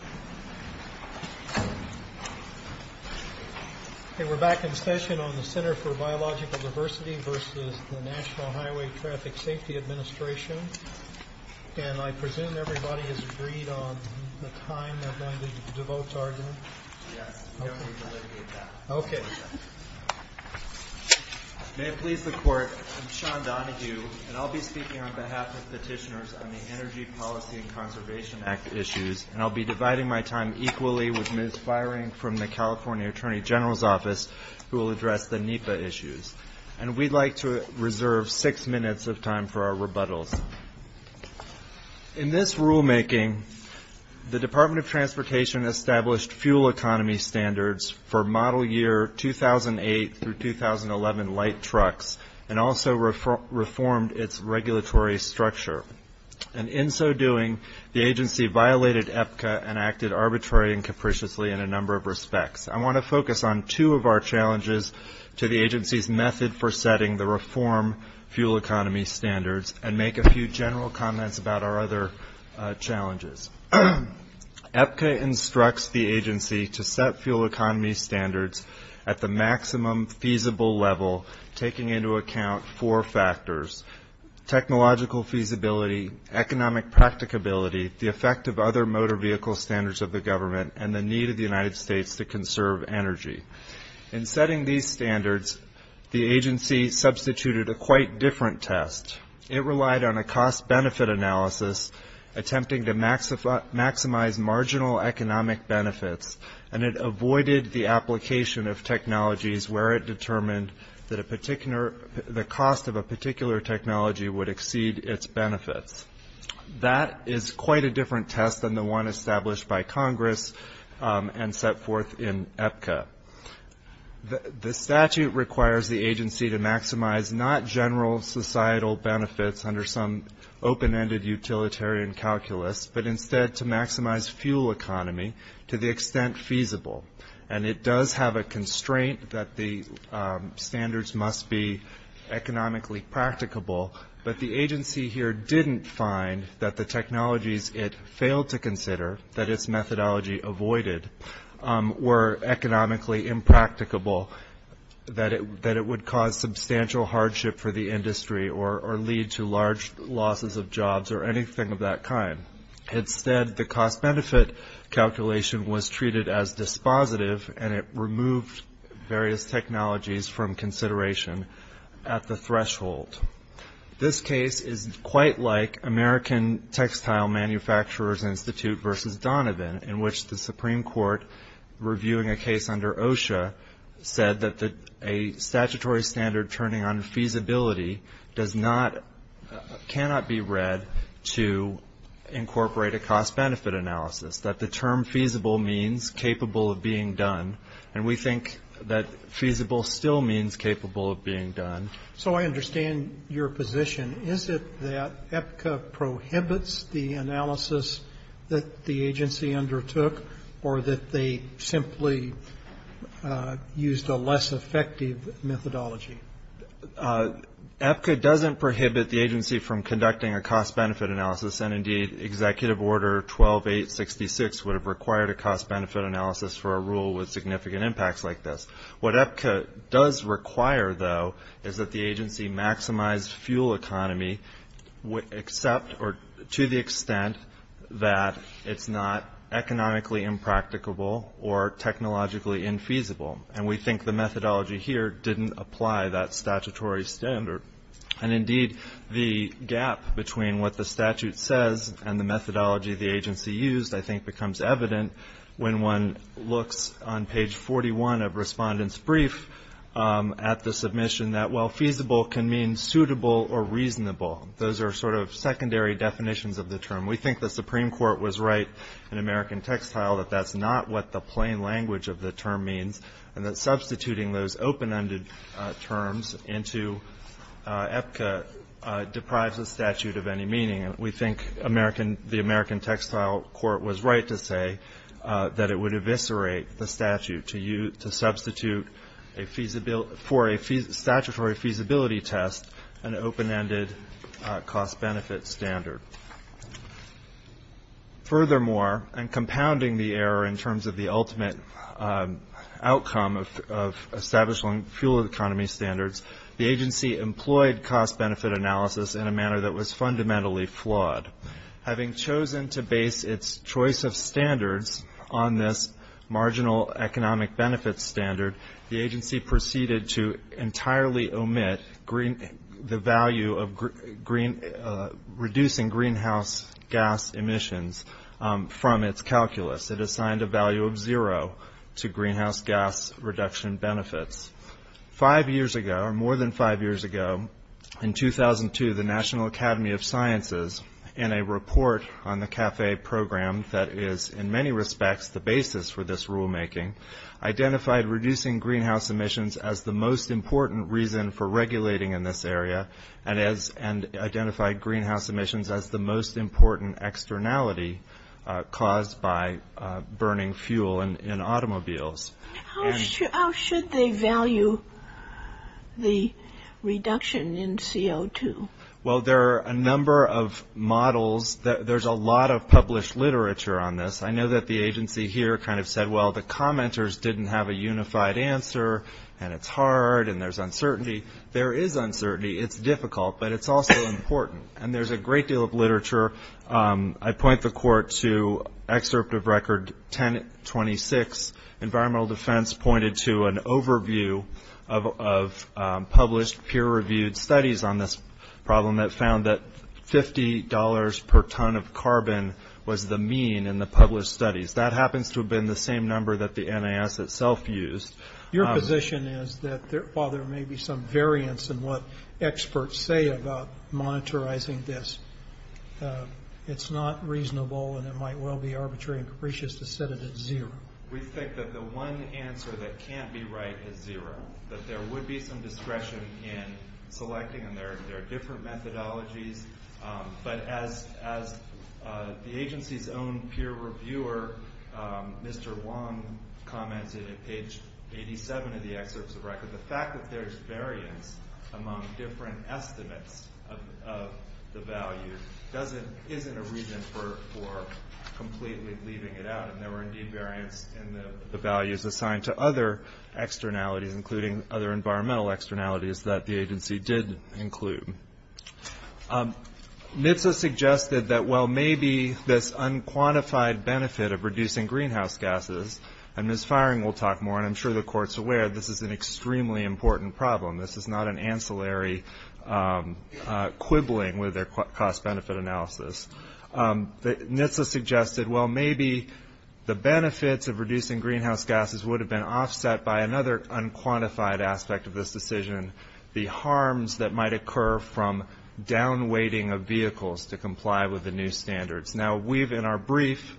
May it please the Court, I'm Sean Donahue, and I'll be speaking on behalf of petitioners on the Energy Policy and Conservation Act issues, and I'll be dividing my time equally with Ms. Fiering from the California Attorney General's office who will address the NEPA issues. And we'd like to reserve six minutes of time for our rebuttals. In this rulemaking, the Department of Transportation established fuel economy standards for model year 2008 through 2011 light trucks and also reformed its regulatory structure. And in so doing, the agency violated EPCA and acted arbitrarily and capriciously in a number of respects. I want to focus on two of our challenges to the agency's method for setting the reformed fuel economy standards and make a few general comments about our other challenges. EPCA instructs the agency to set fuel economy standards at the maximum feasible level, taking into account four factors, technological feasibility, economic practicability, the effect of other motor vehicle standards of the government, and the need of the United States to conserve energy. In setting these standards, the agency substituted a quite different test. It relied on a cost-benefit analysis attempting to maximize marginal economic benefits, and it avoided the application of technologies where it determined that the cost of a particular technology would exceed its benefits. That is quite a different test than the one established by Congress and set forth in EPCA. The statute requires the agency to maximize not general societal benefits under some open-ended utilitarian calculus, but instead to maximize fuel economy to the extent feasible. And it does have a constraint that the standards must be economically practicable, but the agency here didn't find that the technologies it failed to consider, that its methodology avoided, were economically impracticable, that it would cause substantial hardship for the industry or lead to large losses of jobs or anything of that kind. Instead, the cost-benefit calculation was treated as dispositive, and it removed various technologies from consideration at the threshold. This case is quite like American Textile Manufacturers Institute versus Donovan, in which the Supreme Court, reviewing a case under OSHA, said that a statutory standard turning on feasibility does not, cannot be read to incorporate a cost-benefit analysis, that the term feasible means capable of being done, and we think that feasible still means capable of being done. So I understand your position. Is it that EPCA prohibits the analysis that the agency undertook, or that they simply used a less effective methodology? EPCA doesn't prohibit the agency from conducting a cost-benefit analysis, and indeed Executive Order 12-866 would have required a cost-benefit analysis for a rule with significant impacts like this. What EPCA does require, though, is that the agency maximize fuel economy to the extent that it's not economically impracticable or technologically infeasible, and we think the methodology here didn't apply that statutory standard. And indeed, the gap between what the statute says and the methodology the agency used, I think, becomes evident when one looks on page 41 of Respondent's Brief at the submission that, well, feasible can mean suitable or reasonable. Those are sort of secondary definitions of the term. We think the Supreme Court was right in American Textile that that's not what the plain language of the term means, and that substituting those open-ended terms into EPCA deprives the statute of any meaning. We think the American Textile Court was right to say that it would eviscerate the statute to substitute for a statutory feasibility test an open-ended cost-benefit standard. Furthermore, and compounding the error in terms of the ultimate outcome of establishing fuel economy standards, the agency employed cost-benefit analysis in a manner that was fundamentally flawed. Having chosen to base its choice of standards on this marginal economic benefit standard, the agency proceeded to entirely omit the value of reducing greenhouse gas emissions from its calculus. It assigned a value of zero to greenhouse gas reduction benefits. Five years ago, or more than five years ago, in 2002, the National Academy of Sciences, in a report on the CAFE program that is, in many respects, the basis for this rulemaking, identified reducing greenhouse emissions as the most important reason for regulating in this area, and identified greenhouse emissions as the most important externality caused by burning fuel in automobiles. How should they value the reduction in CO2? Well, there are a number of models. There's a lot of published literature on this. I know that the agency here kind of said, well, the commenters didn't have a unified answer, and it's hard, and there's uncertainty. There is uncertainty. It's difficult, but it's also important. And there's a great deal of literature. I point the court to excerpt of record 1026. Environmental defense pointed to an overview of published peer-reviewed studies on this problem that found that $50 per ton of carbon was the mean in the published studies. That happens to have been the same number that the NAS itself used. Your position is that while there may be some variance in what experts say about monitorizing this, it's not reasonable, and it might well be arbitrary and capricious to set it at zero. We think that the one answer that can't be right is zero, that there would be some discretion in selecting, and there are different methodologies. But as the agency's own peer reviewer, Mr. Wong, commented in page 87 of the excerpts of record, the fact that there's variance among different estimates of the value isn't a reason for completely leaving it out. And there were indeed variance in the values assigned to other externalities, including other environmental externalities that the agency did include. NHTSA suggested that while maybe this unquantified benefit of reducing greenhouse gases, and Ms. Firing will talk more, and I'm sure the Court's aware, this is an extremely important problem. This is not an ancillary quibbling with their cost-benefit analysis. NHTSA suggested, well, maybe the benefits of reducing greenhouse gases would have been offset by another unquantified aspect of this decision, the harms that might occur from down-weighting of vehicles to comply with the new standards. Now, we've, in our brief,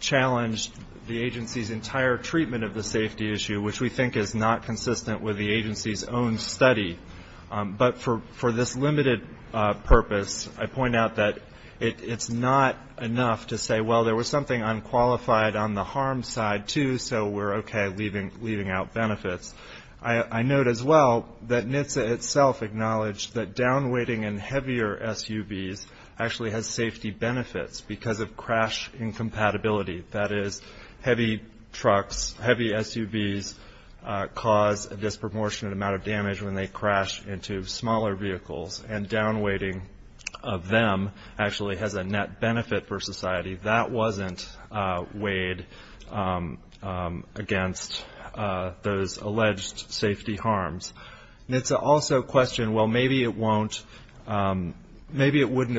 challenged the agency's entire treatment of the safety issue, which we think is not consistent with the agency's own study. But for this limited purpose, I point out that it's not enough to say, well, there was something unqualified on the harm side, too, so we're okay leaving out benefits. I note as well that NHTSA itself acknowledged that down-weighting in heavier SUVs actually has safety benefits because of crash incompatibility. That is, heavy trucks, heavy SUVs cause a disproportionate amount of damage when they crash into smaller vehicles, and down-weighting of them actually has a net benefit for society. That wasn't weighed against those alleged safety harms. NHTSA also questioned, well, maybe it wouldn't have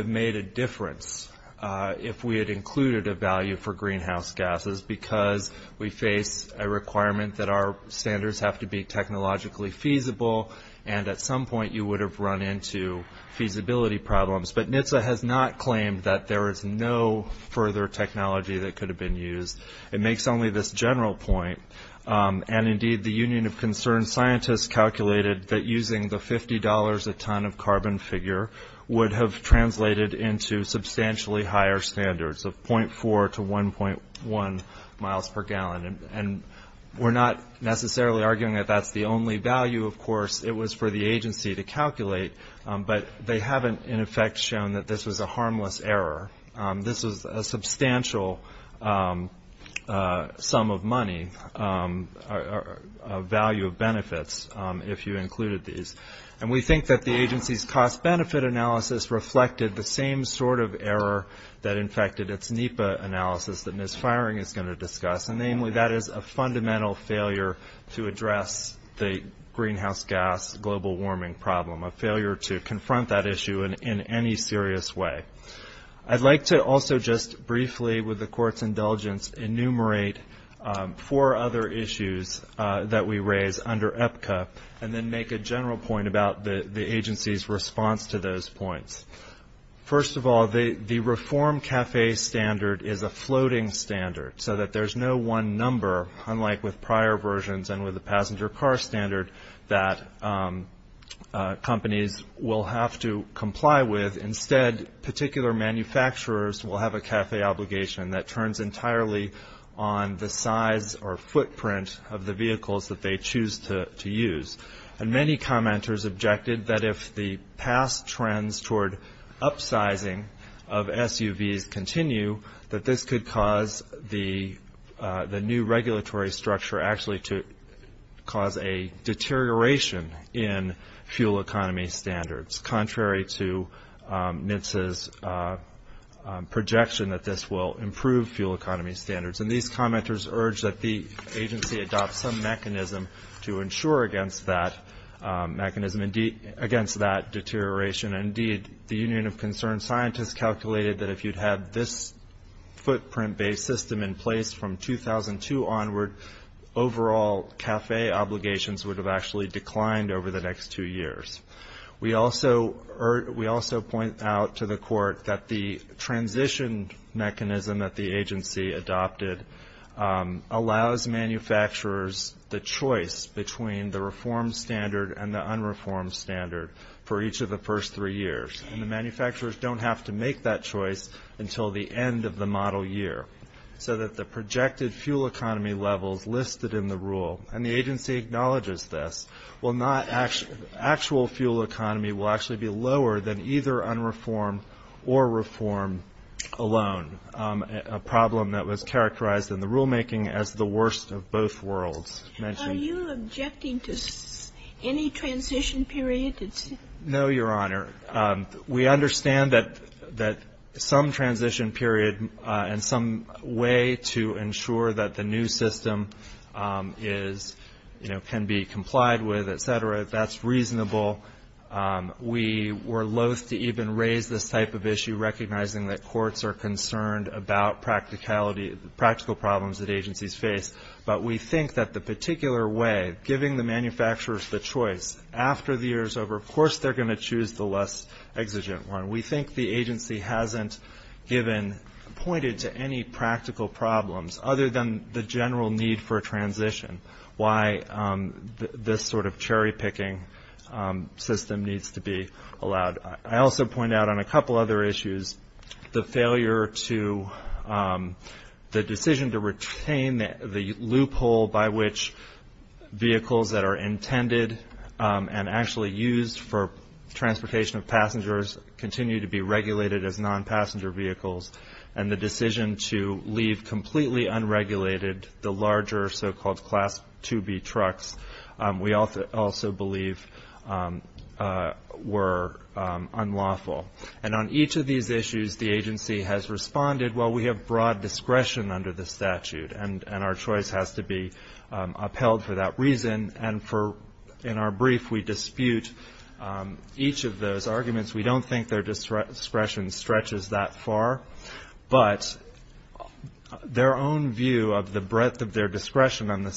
made a difference if we had included a value for greenhouse gases because we face a requirement that our standards have to be technologically feasible, and at some point you would have run into feasibility problems. But NHTSA has not claimed that there is no further technology that could have been used. It makes only this general point. And, indeed, the Union of Concerned Scientists calculated that using the $50 a ton of carbon figure would have translated into substantially higher standards of 0.4 to 1.1 miles per gallon. And we're not necessarily arguing that that's the only value, of course. It was for the agency to calculate, but they haven't, in effect, shown that this was a harmless error. This was a substantial sum of money, value of benefits, if you included these. And we think that the agency's cost-benefit analysis reflected the same sort of error that infected its NEPA analysis that Ms. Firing is going to discuss, and namely that is a fundamental failure to address the greenhouse gas global warming problem, a failure to confront that issue in any serious way. I'd like to also just briefly, with the Court's indulgence, enumerate four other issues that we raise under EPCA and then make a general point about the agency's response to those points. First of all, the reformed CAFE standard is a floating standard, so that there's no one number, unlike with prior versions and with the passenger car standard, that companies will have to comply with. Instead, particular manufacturers will have a CAFE obligation that turns entirely on the size or footprint of the vehicles that they choose to use. And many commenters objected that if the past trends toward upsizing of SUVs continue, that this could cause the new regulatory structure actually to cause a deterioration in fuel economy standards, contrary to NHTSA's projection that this will improve fuel economy standards. And these commenters urged that the agency adopt some mechanism to ensure against that deterioration. Indeed, the Union of Concerned Scientists calculated that if you'd had this footprint-based system in place from 2002 onward, overall CAFE obligations would have actually declined over the next two years. We also point out to the court that the transition mechanism that the agency adopted allows manufacturers the choice between the reformed standard and the unreformed standard for each of the first three years. And the manufacturers don't have to make that choice until the end of the model year, so that the projected fuel economy levels listed in the rule, and the agency acknowledges this, will not actual fuel economy will actually be lower than either unreformed or reformed alone, a problem that was characterized in the rulemaking as the worst of both worlds. Are you objecting to any transition period? No, Your Honor. We understand that some transition period and some way to ensure that the new system is, you know, can be complied with, etc., that's reasonable. We were loath to even raise this type of issue, recognizing that courts are concerned about practical problems that agencies face. But we think that the particular way, giving the manufacturers the choice, after the year's over, of course they're going to choose the less exigent one. We think the agency hasn't given, pointed to any practical problems other than the general need for transition, why this sort of cherry picking system needs to be allowed. I also point out on a couple other issues, the failure to, the decision to retain the loophole by which vehicles that are intended and actually used for transportation of passengers continue to be regulated as non-passenger vehicles, and the decision to leave completely unregulated the larger so-called Class 2B trucks, we also believe were unlawful. And on each of these issues, the agency has responded, well, we have broad discretion under the statute, and our choice has to be upheld for that reason. And in our brief, we dispute each of those arguments. We don't think their discretion stretches that far. But their own view of the breadth of their discretion under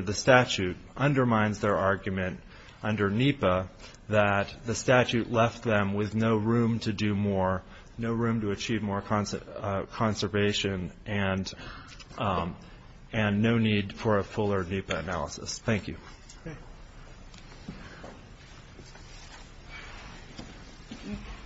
the statute undermines their argument under NEPA that the statute left them with no room to do more, no room to achieve more conservation, and no need for a fuller NEPA analysis. Thank you.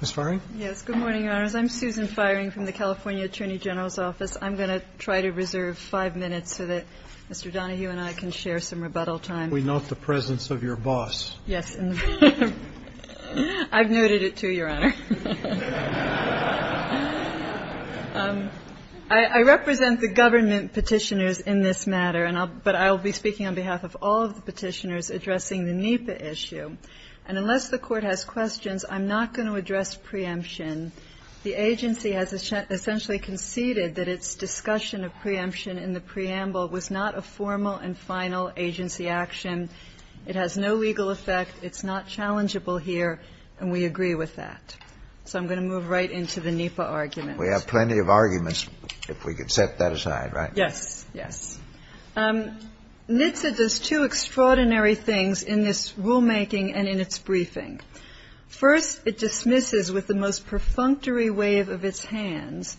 Ms. Farring? Yes, good morning, Your Honors. I'm Susan Farring from the California Attorney General's Office. I'm going to try to reserve five minutes so that Mr. Donahue and I can share some rebuttal time. We note the presence of your boss. Yes. I've noted it, too, Your Honor. I represent the government Petitioners in this matter, but I'll be speaking on behalf of all of the Petitioners addressing the NEPA issue. And unless the Court has questions, I'm not going to address preemption. The agency has essentially conceded that its discussion of preemption in the preamble was not a formal and final agency action. It has no legal effect, it's not challengeable here, and we agree with that. So I'm going to move right into the NEPA argument. We have plenty of arguments, if we could set that aside, right? Yes, yes. NHTSA does two extraordinary things in this rulemaking and in its briefing. First, it dismisses with the most perfunctory wave of its hands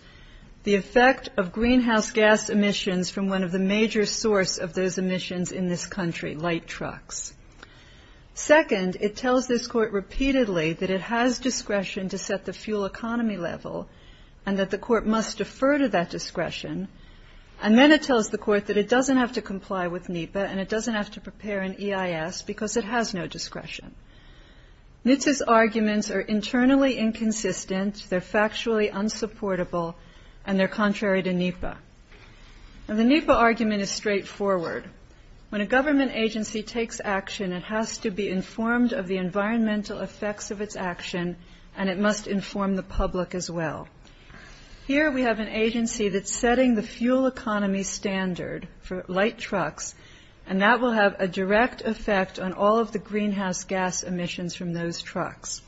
the effect of greenhouse from one of the major source of those emissions in this country, light trucks. Second, it tells this Court repeatedly that it has discretion to set the fuel economy level and that the Court must defer to that discretion. And then it tells the Court that it doesn't have to comply with NEPA and it doesn't have to prepare an EIS because it has no discretion. NHTSA's arguments are internally inconsistent, they're factually unsupportable, and they're contrary to NEPA. Now, the NEPA argument is straightforward. When a government agency takes action, it has to be informed of the environmental effects of its action, and it must inform the public as well. Here we have an agency that's setting the fuel economy standard for light trucks, and that will have a direct effect on all of the greenhouse gas emissions from those trucks.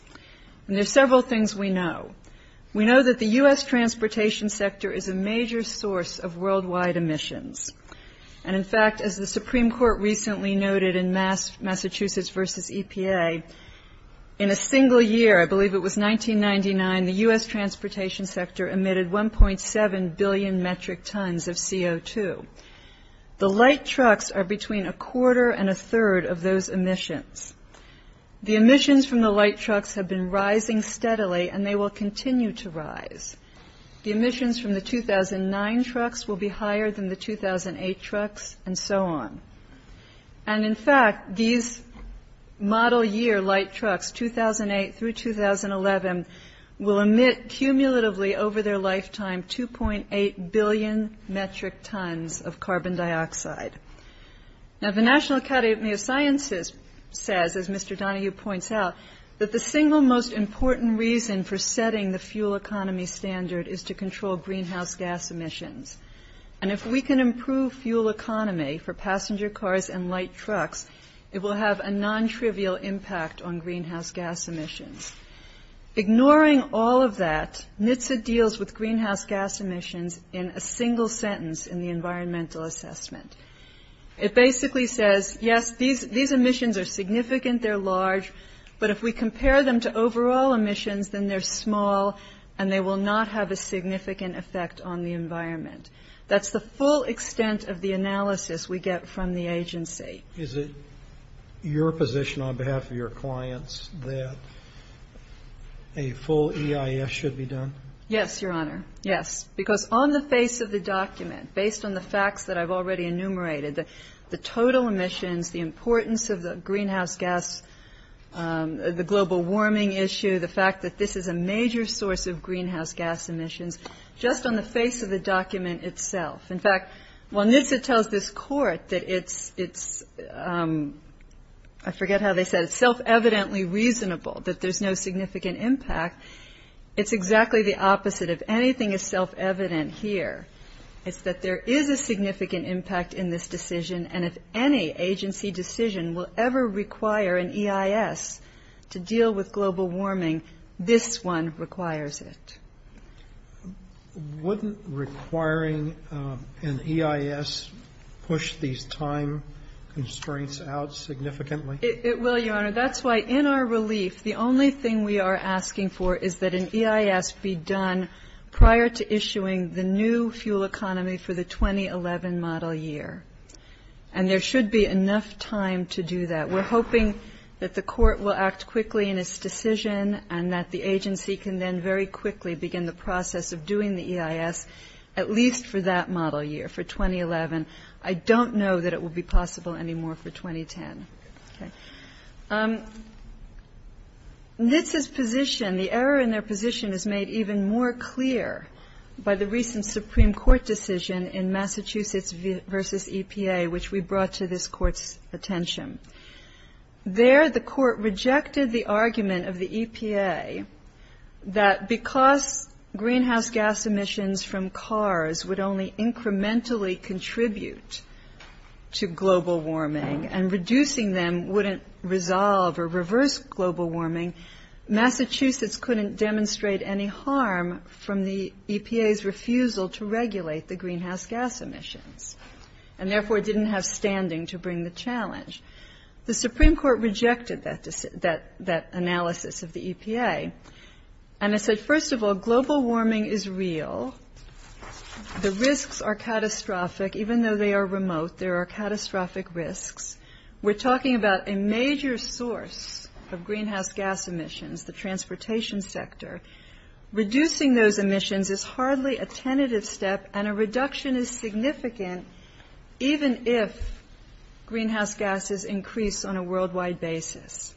And there are several things we know. We know that the U.S. transportation sector is a major source of worldwide emissions. And, in fact, as the Supreme Court recently noted in Massachusetts v. EPA, in a single year, I believe it was 1999, the U.S. transportation sector emitted 1.7 billion metric tons of CO2. The light trucks are between a quarter and a third of those emissions. The emissions from the light trucks have been rising steadily, and they will continue to rise. The emissions from the 2009 trucks will be higher than the 2008 trucks, and so on. And, in fact, these model-year light trucks, 2008 through 2011, will emit cumulatively over their lifetime 2.8 billion metric tons of carbon dioxide. Now, the National Academy of Sciences says, as Mr. Donohue points out, that the single most important reason for setting the fuel economy standard is to control greenhouse gas emissions. And if we can improve fuel economy for passenger cars and light trucks, it will have a nontrivial impact on greenhouse gas emissions. Ignoring all of that, NHTSA deals with greenhouse gas emissions in a single sentence in the environmental assessment. It basically says, yes, these emissions are significant, they're large, but if we compare them to overall emissions, then they're small, and they will not have a significant effect on the environment. That's the full extent of the analysis we get from the agency. Is it your position on behalf of your clients that a full EIS should be done? Yes, Your Honor, yes. Because on the face of the document, based on the facts that I've already enumerated, the total emissions, the importance of the greenhouse gas, the global warming issue, the fact that this is a major source of greenhouse gas emissions, just on the face of the document itself. In fact, while NHTSA tells this Court that it's, I forget how they said it, self-evidently reasonable, that there's no significant impact, it's exactly the opposite. If anything is self-evident here, it's that there is a significant impact in this decision, and if any agency decision will ever require an EIS to deal with global warming, this one requires it. Wouldn't requiring an EIS push these time constraints out significantly? It will, Your Honor. That's why in our relief, the only thing we are asking for is that an EIS be done prior to issuing the new fuel economy for the 2011 model year. And there should be enough time to do that. We're hoping that the Court will act quickly in its decision and that the agency can then very quickly begin the process of doing the EIS, at least for that model year, for 2011. I don't know that it will be possible anymore for 2010. Okay. NHTSA's position, the error in their position is made even more clear by the recent Supreme Court decision in Massachusetts v. EPA, which we brought to this Court's attention. There the Court rejected the argument of the EPA that because greenhouse gas emissions from cars would only resolve or reverse global warming, Massachusetts couldn't demonstrate any harm from the EPA's refusal to regulate the greenhouse gas emissions, and therefore didn't have standing to bring the challenge. The Supreme Court rejected that analysis of the EPA, and it said, first of all, global warming is real. The risks are catastrophic. Even though they are remote, there are catastrophic risks. We're talking about a major source of greenhouse gas emissions, the transportation sector. Reducing those emissions is hardly a tentative step, and a reduction is significant, even if greenhouse gases increase on a worldwide basis.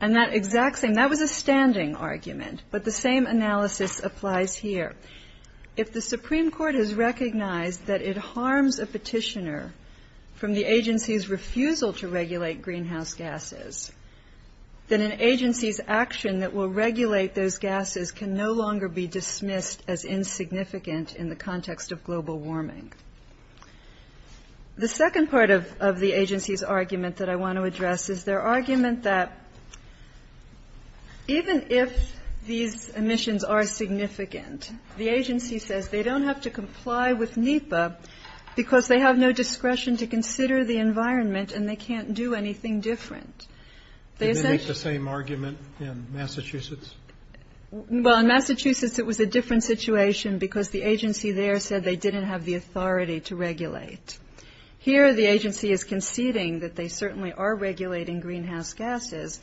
And that exact same, that was a standing argument, but the same analysis applies here. If the Supreme Court has recognized that it harms a petitioner from the agency's refusal to regulate greenhouse gases, then an agency's action that will regulate those gases can no longer be dismissed as insignificant in the context of global warming. The second part of the agency's argument that I want to address is their argument that even if these emissions are The agency says they don't have to comply with NEPA because they have no discretion to consider the environment, and they can't do anything different. Did they make the same argument in Massachusetts? Well, in Massachusetts it was a different situation because the agency there said they didn't have the authority to regulate. Here the agency is conceding that they certainly are regulating greenhouse gases,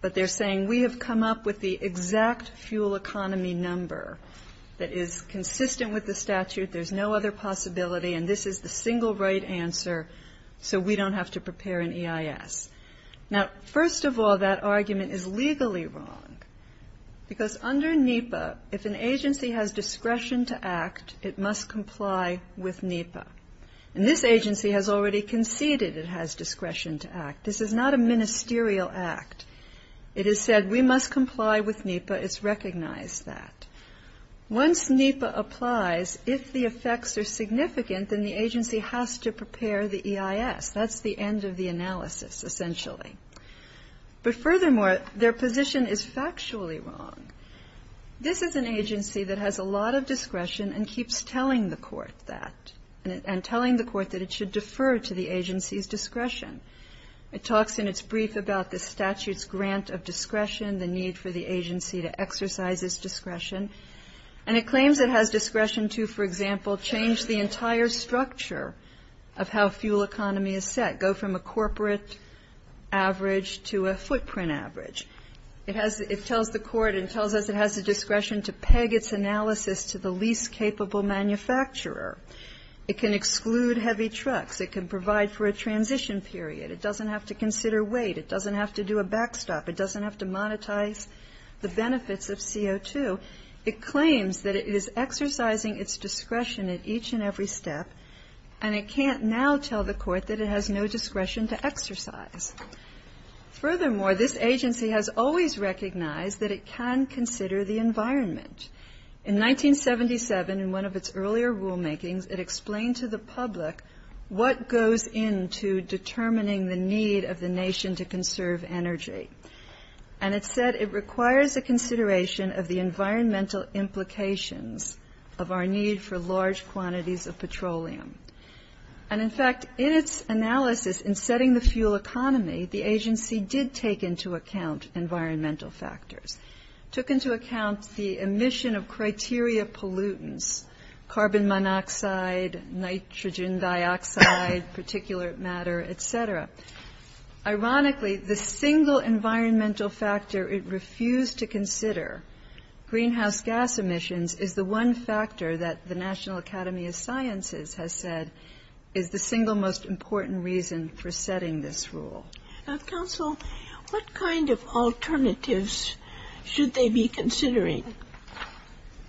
but they're saying we have come up with the exact fuel economy number that is consistent with the statute. There's no other possibility, and this is the single right answer, so we don't have to prepare an EIS. Now, first of all, that argument is legally wrong because under NEPA, if an agency has discretion to act, it must comply with NEPA. And this agency has already conceded it has discretion to act. This is not a ministerial act. It is said we must comply with NEPA. It's recognized that. Once NEPA applies, if the effects are significant, then the agency has to prepare the EIS. That's the end of the analysis, essentially. But furthermore, their position is factually wrong. This is an agency that has a lot of discretion and keeps telling the court that, and telling the court that it should defer to the agency's discretion. It talks in its brief about the statute's grant of discretion, the need for the agency to exercise its discretion, and it claims it has discretion to, for example, change the entire structure of how fuel economy is set, go from a corporate average to a footprint average. It has the court and tells us it has the discretion to peg its analysis to the least capable manufacturer. It can exclude heavy trucks. It can provide for a transition period. It doesn't have to consider weight. It doesn't have to do a backstop. It doesn't have to monetize the benefits of CO2. It claims that it is exercising its discretion at each and every step, and it can't now tell the court that it has no discretion to exercise. Furthermore, this agency has always recognized that it can consider the environment. In 1977, in one of its earlier rulemakings, it explained to the public what goes into determining the need of the nation to conserve energy, and it said it requires a consideration of the environmental implications of our need for large quantities of petroleum. And, in fact, in its analysis in setting the fuel economy, the agency did take into account environmental factors. It took into account the emission of criteria pollutants, carbon monoxide, nitrogen dioxide, particulate matter, et cetera. Ironically, the single environmental factor it refused to consider, greenhouse gas emissions, is the one factor that the National Academy of Sciences has said is the single most important reason for setting this rule. Now, counsel, what kind of alternatives should they be considering?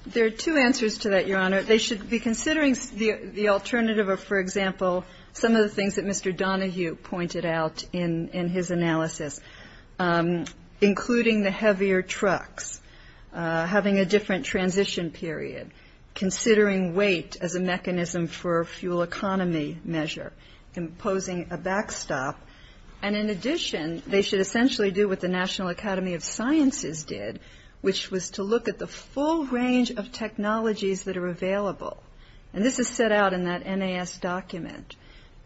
There are two answers to that, Your Honor. They should be considering the alternative of, for example, some of the things that Mr. Donahue pointed out in his analysis, including the heavier trucks, having a different transition period, considering weight as a mechanism for a fuel economy measure, imposing a backstop. And, in addition, they should essentially do what the National Academy of Sciences did, which was to look at the full range of technologies that are available. And this is set out in that NAS document.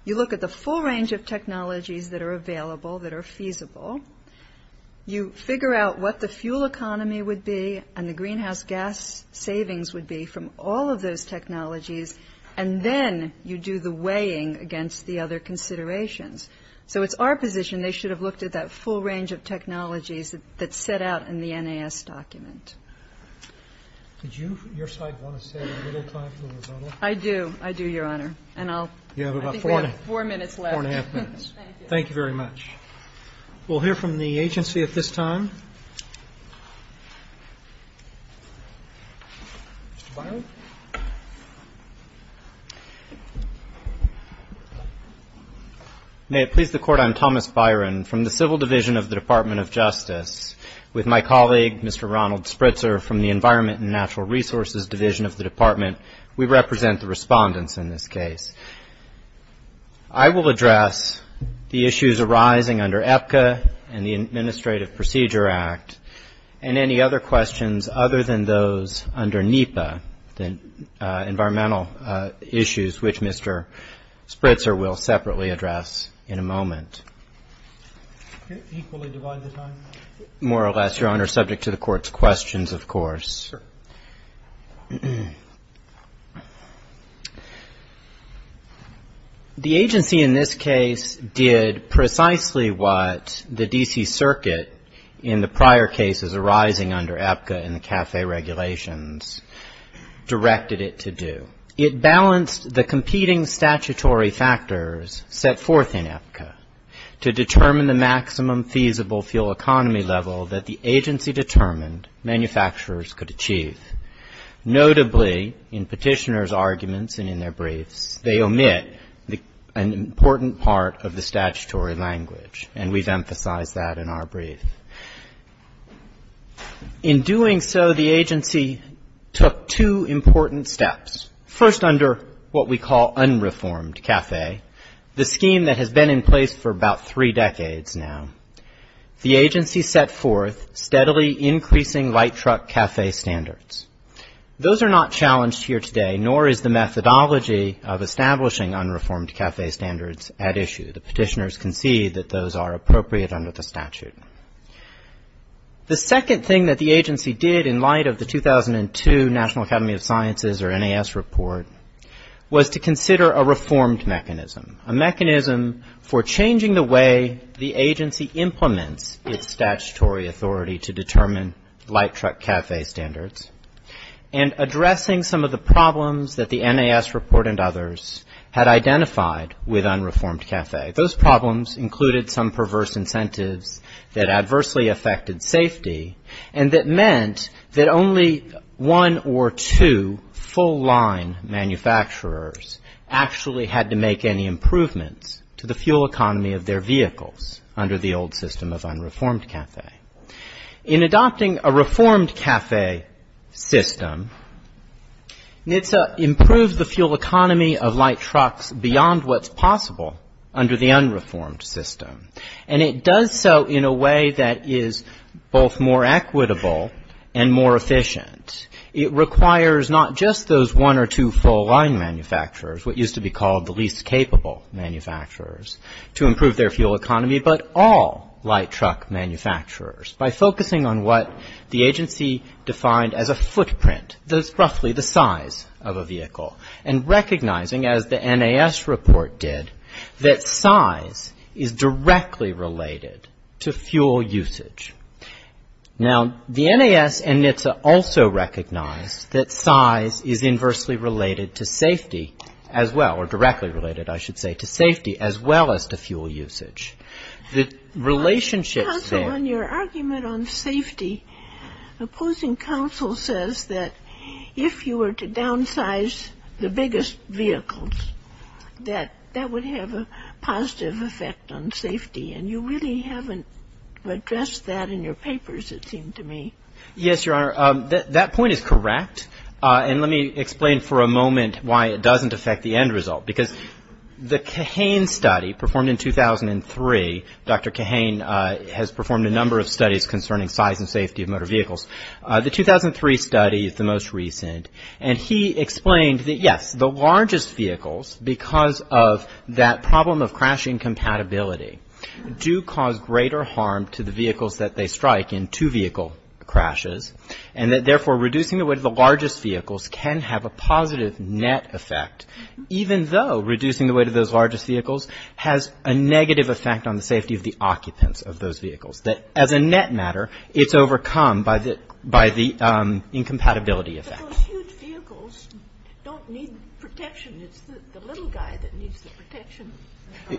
You look at the full range of technologies that are available, that are feasible. You figure out what the fuel economy would be and the greenhouse gas savings would be from all of those technologies. And then you do the weighing against the other considerations. So it's our position they should have looked at that full range of technologies that's set out in the NAS document. Did you, your side, want to say a little time for a rebuttal? I do. I do, Your Honor. And I'll ‑‑ You have about four minutes left. Four and a half minutes. Thank you. Thank you very much. We'll hear from the agency at this time. Mr. Byron. May it please the Court, I'm Thomas Byron from the Civil Division of the Department of Justice. With my colleague, Mr. Ronald Spritzer, from the Environment and Natural Resources Division of the Department, we represent the respondents in this case. I will address the issues arising under EPCA and the Administrative Procedure Act and any other questions other than those under NEPA, the environmental issues, which Mr. Spritzer will separately address in a moment. Equally divide the time? More or less, Your Honor, subject to the Court's questions, of course. Sure. The agency in this case did precisely what the D.C. Circuit, in the prior cases arising under EPCA and the CAFE regulations, directed it to do. It balanced the competing statutory factors set forth in EPCA to determine the maximum feasible fuel economy level that the agency determined manufacturers could achieve. Notably, in Petitioner's arguments and in their briefs, they omit an important part of the statutory language, and we've emphasized that in our brief. In doing so, the agency took two important steps. First, under what we call unreformed CAFE, the scheme that has been in place for about three decades now, the agency set forth steadily increasing light truck CAFE standards. Those are not challenged here today, nor is the methodology of establishing unreformed CAFE standards at issue. The petitioners concede that those are appropriate under the statute. The second thing that the agency did in light of the 2002 National Academy of Sciences or NAS report was to consider a reformed mechanism, a mechanism for changing the way the agency implements its statutory authority to determine light truck CAFE standards, and addressing some of the problems that the NAS report and others had identified with unreformed CAFE. Those problems included some perverse incentives that adversely affected safety, and that meant that only one or two full-line manufacturers actually had to make any improvements to the fuel economy of their vehicles under the old system of unreformed CAFE. In adopting a reformed CAFE system, NHTSA improved the fuel economy of light trucks beyond what's possible under the unreformed system, and it does so in a way that is both more equitable and more efficient. It requires not just those one or two full-line manufacturers, what used to be called the least capable manufacturers, to improve their fuel economy, but all light truck manufacturers by focusing on what the agency defined as a footprint, that's roughly the size of a vehicle, and recognizing, as the NAS report did, that size is directly related to fuel usage. Now, the NAS and NHTSA also recognize that size is inversely related to safety as well, or directly related, I should say, to safety as well as to fuel usage. The relationship there... Your argument on safety, opposing counsel says that if you were to downsize the biggest vehicles, that that would have a positive effect on safety, and you really haven't addressed that in your papers, it seemed to me. Yes, Your Honor, that point is correct, and let me explain for a moment why it doesn't affect the end result, because the Kahane study performed in 2003, Dr. Kahane has performed a number of studies concerning size and safety of motor vehicles. The 2003 study is the most recent, and he explained that, yes, the largest vehicles, because of that problem of crash incompatibility, do cause greater harm to the vehicles that they strike in two-vehicle crashes, and that, therefore, reducing the weight of the largest vehicles can have a positive net effect, even though reducing the weight of those largest vehicles has a negative effect on the safety of the occupants of those vehicles, that, as a net matter, it's overcome by the incompatibility effect. Those huge vehicles don't need protection. It's the little guy that needs the protection.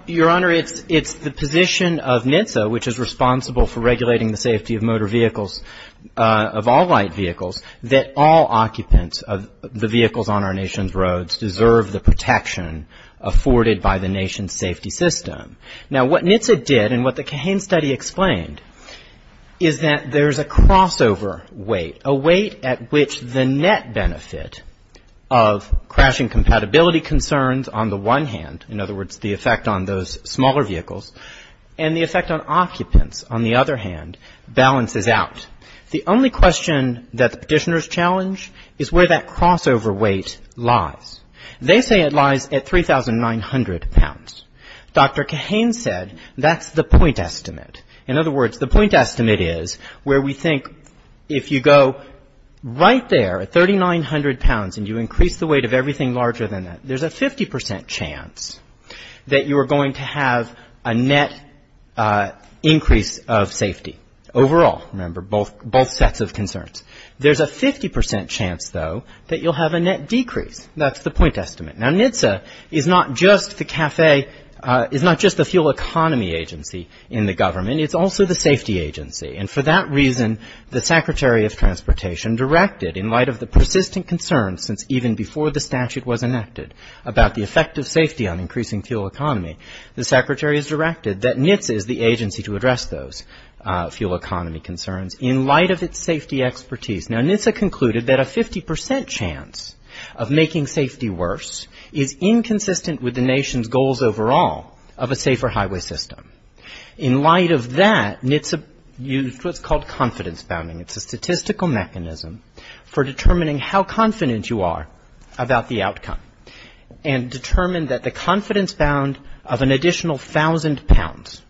Your Honor, it's the position of NHTSA, which is responsible for regulating the safety of motor vehicles, of all light vehicles, that all occupants of the vehicles on our nation's roads deserve the protection afforded by the nation's safety system. Now, what NHTSA did, and what the Kahane study explained, is that there's a crossover weight, a weight at which the net benefit of crashing compatibility concerns on the one hand, in other words, the effect on those smaller vehicles, and the effect on occupants, on the other hand, balances out. The only question that the Petitioners challenge is where that crossover weight lies. They say it lies at 3,900 pounds. Dr. Kahane said that's the point estimate. In other words, the point estimate is where we think if you go right there at 3,900 pounds and you increase the weight of everything larger than that, there's a 50 percent chance that you are going to have a net increase of safety overall. Remember, both sets of concerns. There's a 50 percent chance, though, that you'll have a net decrease. That's the point estimate. Now, NHTSA is not just the fuel economy agency in the government. It's also the safety agency. And for that reason, the Secretary of Transportation directed, in light of the persistent concerns since even before the statute was enacted about the effect of safety on increasing fuel economy, the Secretary has directed that NHTSA is the agency to address those fuel economy concerns in light of its safety expertise. Now, NHTSA concluded that a 50 percent chance of making safety worse is inconsistent with the nation's goals overall of a safer highway system. In light of that, NHTSA used what's called confidence bounding. It's a statistical mechanism for determining how confident you are about the outcome and determined that the confidence bound of an additional 1,000 pounds,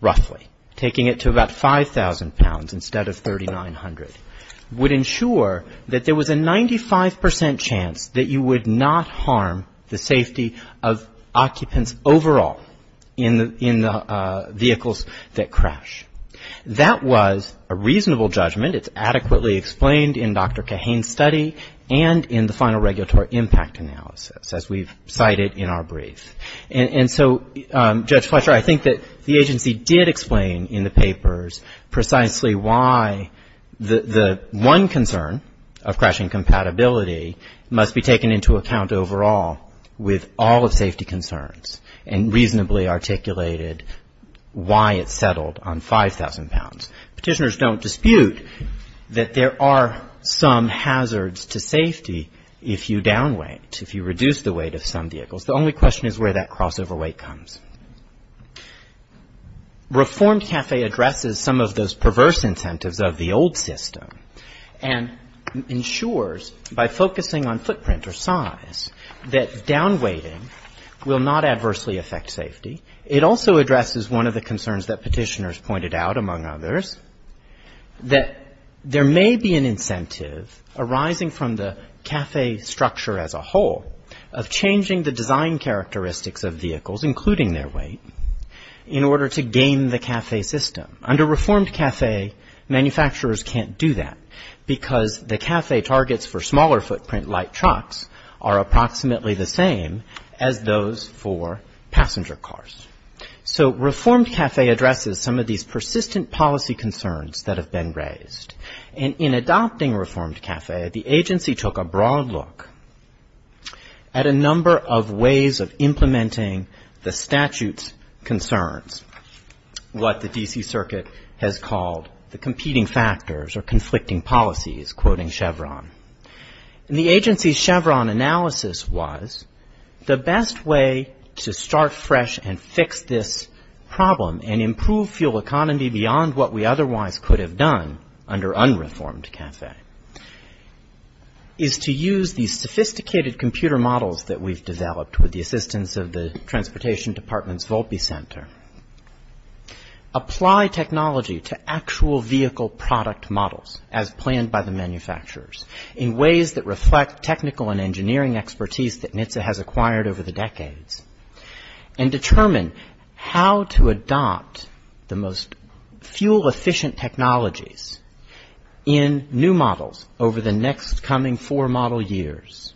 roughly, taking it to about 5,000 pounds instead of 3,900, would ensure that there was a 95 percent chance that you would not harm the safety of occupants overall in the vehicles that crash. That was a reasonable judgment. It's adequately explained in Dr. Kahane's study and in the final regulatory impact analysis, as we've cited in our brief. And so, Judge Fletcher, I think that the agency did explain in the papers precisely why the one concern of crashing compatibility must be taken into account overall with all of safety concerns and reasonably articulated why it's settled on 5,000 pounds. Petitioners don't dispute that there are some hazards to safety if you down weight, if you reduce the weight of some vehicles. The only question is where that crossover weight comes. Reformed CAFE addresses some of those perverse incentives of the old system and ensures by focusing on footprint or size that down weighting will not adversely affect safety. It also addresses one of the concerns that petitioners pointed out, among others, that there may be an incentive arising from the CAFE structure as a whole of changing the design characteristics of vehicles, including their weight, in order to gain the CAFE system. Under Reformed CAFE, manufacturers can't do that because the CAFE targets for smaller footprint light trucks are approximately the same as those for passenger cars. So Reformed CAFE addresses some of these persistent policy concerns that have been raised. And in adopting Reformed CAFE, the agency took a broad look at a number of ways of implementing the statute's concerns, what the D.C. Circuit has called the competing factors or conflicting policies, quoting Chevron. And the agency's Chevron analysis was the best way to start fresh and fix this problem and improve fuel economy beyond what we otherwise could have done under Unreformed CAFE, is to use these sophisticated computer models that we've developed with the assistance of the Transportation Department's Volpe Center, apply technology to actual vehicle product models as planned by the manufacturers in ways that reflect technical and engineering expertise that NHTSA has acquired over the decades, and determine how to adopt the most fuel-efficient technologies in new models over the next coming four model years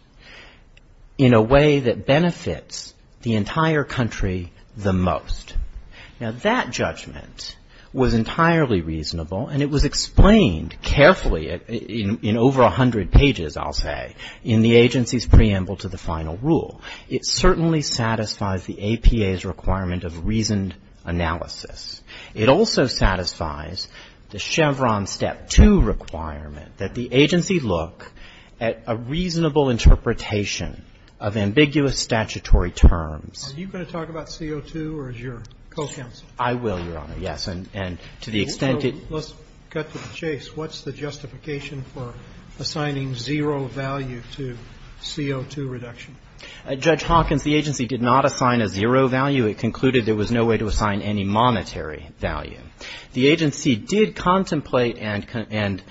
in a way that benefits the entire country the most. Now, that judgment was entirely reasonable, and it was explained carefully in over 100 pages, I'll say, in the agency's preamble to the final rule. It certainly satisfies the APA's requirement of reasoned analysis. It also satisfies the Chevron Step 2 requirement that the agency look at a reasonable interpretation of ambiguous statutory terms. Are you going to talk about CO2 or is your co-counsel? I will, Your Honor, yes. Let's cut to the chase. What's the justification for assigning zero value to CO2 reduction? Judge Hawkins, the agency did not assign a zero value. It concluded there was no way to assign any monetary value. The agency did contemplate and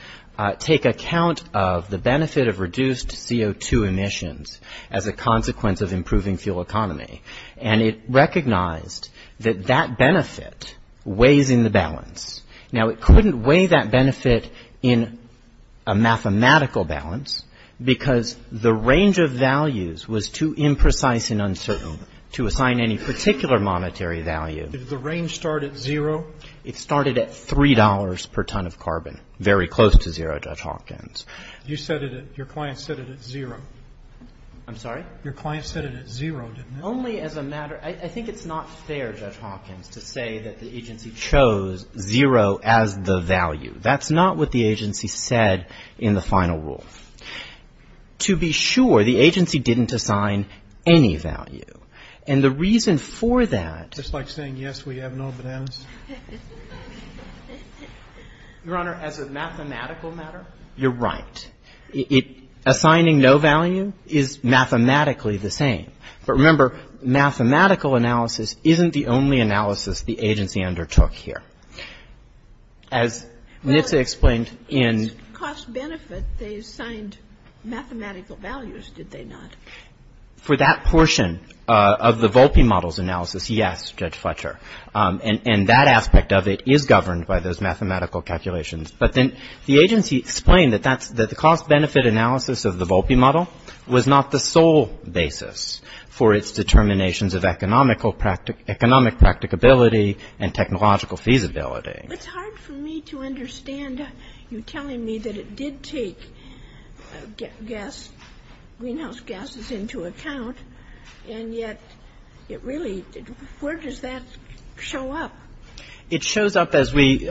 take account of the benefit of reduced CO2 emissions as a consequence of improving fuel economy. And it recognized that that benefit weighs in the balance. Now, it couldn't weigh that benefit in a mathematical balance because the range of values was too imprecise and uncertain to assign any particular monetary value. Did the range start at zero? It started at $3 per ton of carbon, very close to zero, Judge Hawkins. You said it, your client said it at zero. Your client said it at zero, didn't he? Only as a matter, I think it's not fair, Judge Hawkins, to say that the agency chose zero as the value. That's not what the agency said in the final rule. To be sure, the agency didn't assign any value. And the reason for that. Just like saying yes, we have no bananas? Your Honor, as a mathematical matter, you're right. Assigning no value is mathematically the same. But remember, mathematical analysis isn't the only analysis the agency undertook here. As NHTSA explained in. It's cost-benefit, they assigned mathematical values, did they not? For that portion of the Volpe model's analysis, yes, Judge Fletcher. And that aspect of it is governed by those mathematical calculations. But then the agency explained that the cost-benefit analysis of the Volpe model was not the sole basis. For its determinations of economic practicability and technological feasibility. It's hard for me to understand you telling me that it did take gas, greenhouse gases into account. And yet it really, where does that show up? It shows up as we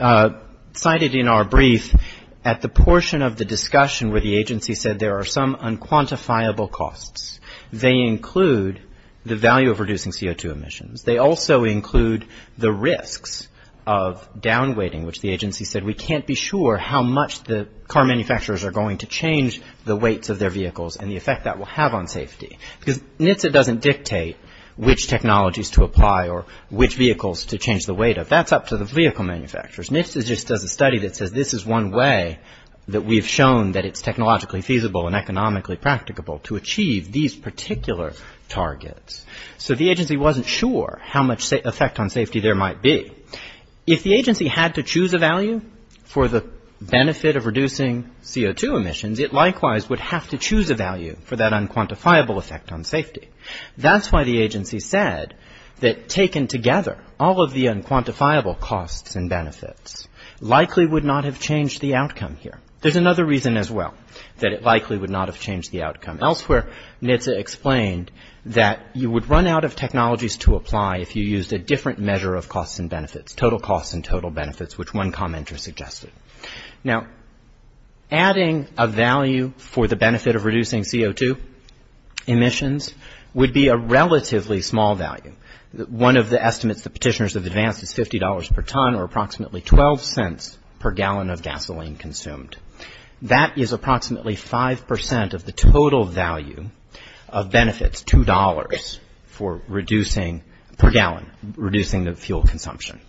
cited in our brief at the portion of the discussion where the agency said there are some unquantifiable costs. They include the value of reducing CO2 emissions. They also include the risks of down-weighting, which the agency said we can't be sure how much the car manufacturers are going to change the weights of their vehicles and the effect that will have on safety. Because NHTSA doesn't dictate which technologies to apply or which vehicles to change the weight of. That's up to the vehicle manufacturers. NHTSA just does a study that says this is one way that we've shown that it's technologically feasible and economically practicable to achieve these particular targets. So the agency wasn't sure how much effect on safety there might be. If the agency had to choose a value for the benefit of reducing CO2 emissions, it likewise would have to choose a value for that unquantifiable effect on safety. That's why the agency said that taken together, all of the unquantifiable costs and benefits likely would not have changed the outcome here. There's another reason as well that it likely would not have changed the outcome elsewhere. NHTSA explained that you would run out of technologies to apply if you used a different measure of costs and benefits, total costs and total benefits, which one commenter suggested. Now, adding a value for the benefit of reducing CO2 emissions would be a relatively small value. One of the estimates the petitioners have advanced is $50 per ton or approximately 12 cents per gallon of gasoline consumed. That is approximately 5 percent of the total value of benefits, $2 per gallon, reducing the fuel consumption.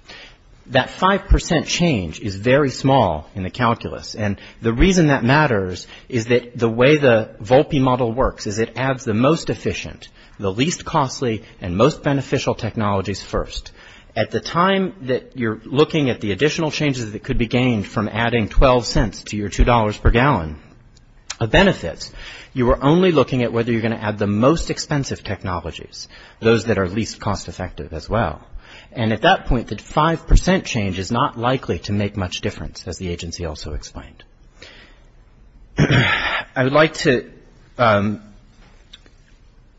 That 5 percent change is very small in the calculus. And the reason that matters is that the way the Volpe model works is it adds the most efficient, the least costly and most beneficial technologies first. At the time that you're looking at the additional changes that could be gained from adding 12 cents to your $2 per gallon of benefits, you are only looking at whether you're going to add the most expensive technologies, those that are least cost effective as well. And at that point, the 5 percent change is not likely to make much difference, as the agency also explained. I would like to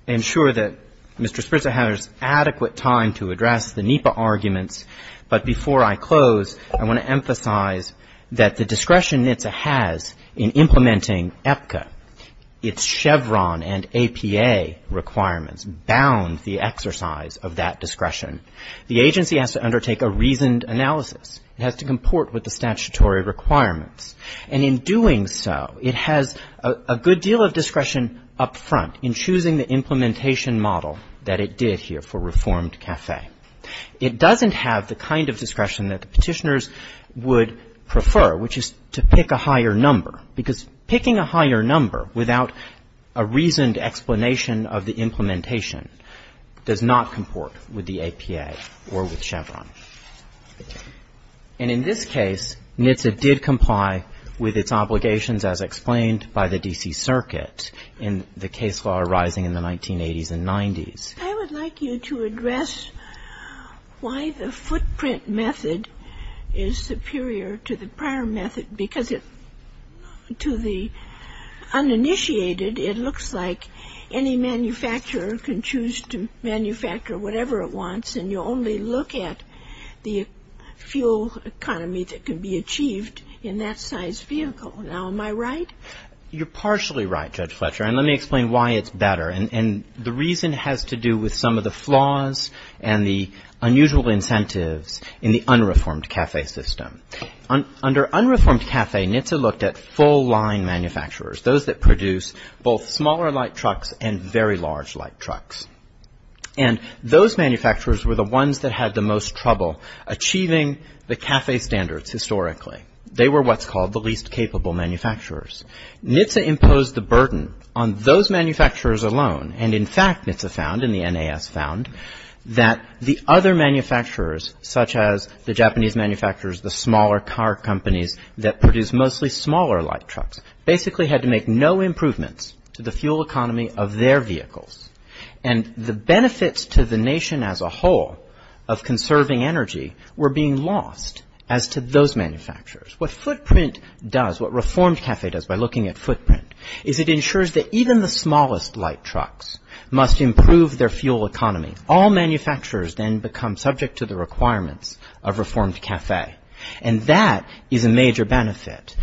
ensure that Mr. Spritzer has adequate time to address the NEPA arguments, but before I close, I want to emphasize that the discretion NHTSA has in implementing APCA, its Chevron and APA requirements bound the exercise of that discretion. The agency has to undertake a reasoned analysis. It has to comport with the statutory requirements. And in doing so, it has a good deal of discretion up front in choosing the implementation model that it did here for Reformed Cafe. It doesn't have the kind of discretion that the petitioners would prefer, which is to pick a higher number, because picking a higher number without a reasoned explanation of the implementation does not comport with the APA or with Chevron. And in this case, NHTSA did comply with its obligations as explained by the D.C. Circuit in the case law arising in the 1980s and 90s. I would like you to address why the footprint method is superior to the prior method, because to the uninitiated, it looks like any manufacturer can choose to manufacture whatever it wants, and you only look at the fuel economy that can be achieved in that size vehicle. Now, am I right? You're partially right, Judge Fletcher, and let me explain why it's better. And the reason has to do with some of the flaws and the unusual incentives in the Unreformed Cafe system. Under Unreformed Cafe, NHTSA looked at full line manufacturers, those that produce both smaller light trucks and very large light trucks. And those manufacturers were the ones that had the most trouble achieving the cafe standards historically. They were what's called the least capable manufacturers. NHTSA imposed the burden on those manufacturers alone. And in fact, NHTSA found and the NAS found that the other manufacturers, such as the Japanese manufacturers, the smaller car companies that produce mostly smaller light trucks, basically had to make no improvements to the fuel economy of their vehicles. And the benefits to the nation as a whole of conserving energy were being lost as to those manufacturers. What Footprint does, what Reformed Cafe does by looking at Footprint, is it ensures that even the smallest light trucks must improve their fuel economy. All manufacturers then become subject to the requirements of Reformed Cafe. And that is a major benefit.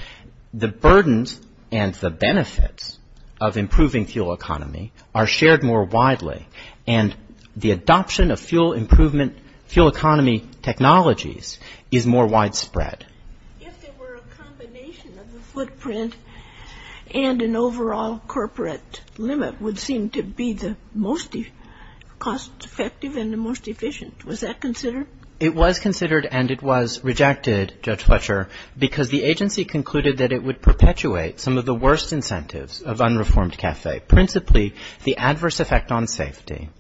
The burdens and the benefits of improving fuel economy are shared more widely. And the adoption of fuel improvement, fuel economy technologies is more widespread. If there were a combination of the Footprint and an overall corporate limit would seem to be the most cost effective and the most efficient. Was that considered? It was considered and it was rejected, Judge Fletcher, because the agency concluded that it would perpetuate some of the worst incentives of Unreformed Cafe, principally the adverse effect on safety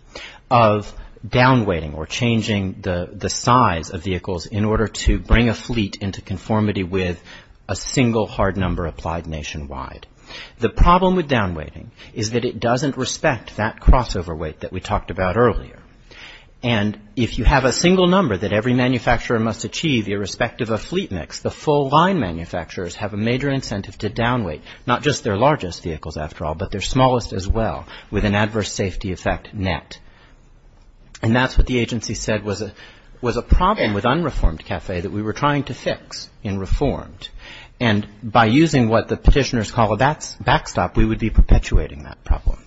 of down weighting or changing the size of vehicles in order to bring a fleet into conformity with a single hard number applied nationwide. The problem with down weighting is that it doesn't respect that crossover weight that we talked about earlier. And if you have a single number that every manufacturer must achieve, irrespective of fleet mix, the full line manufacturers have a major incentive to down weight, not just their largest vehicles, after all, but their smallest as well, with an adverse safety effect net. And that's what the agency said was a problem with Unreformed Cafe that we were trying to fix in Reformed. And by using what the Petitioners call a backstop, we would be perpetuating that problem.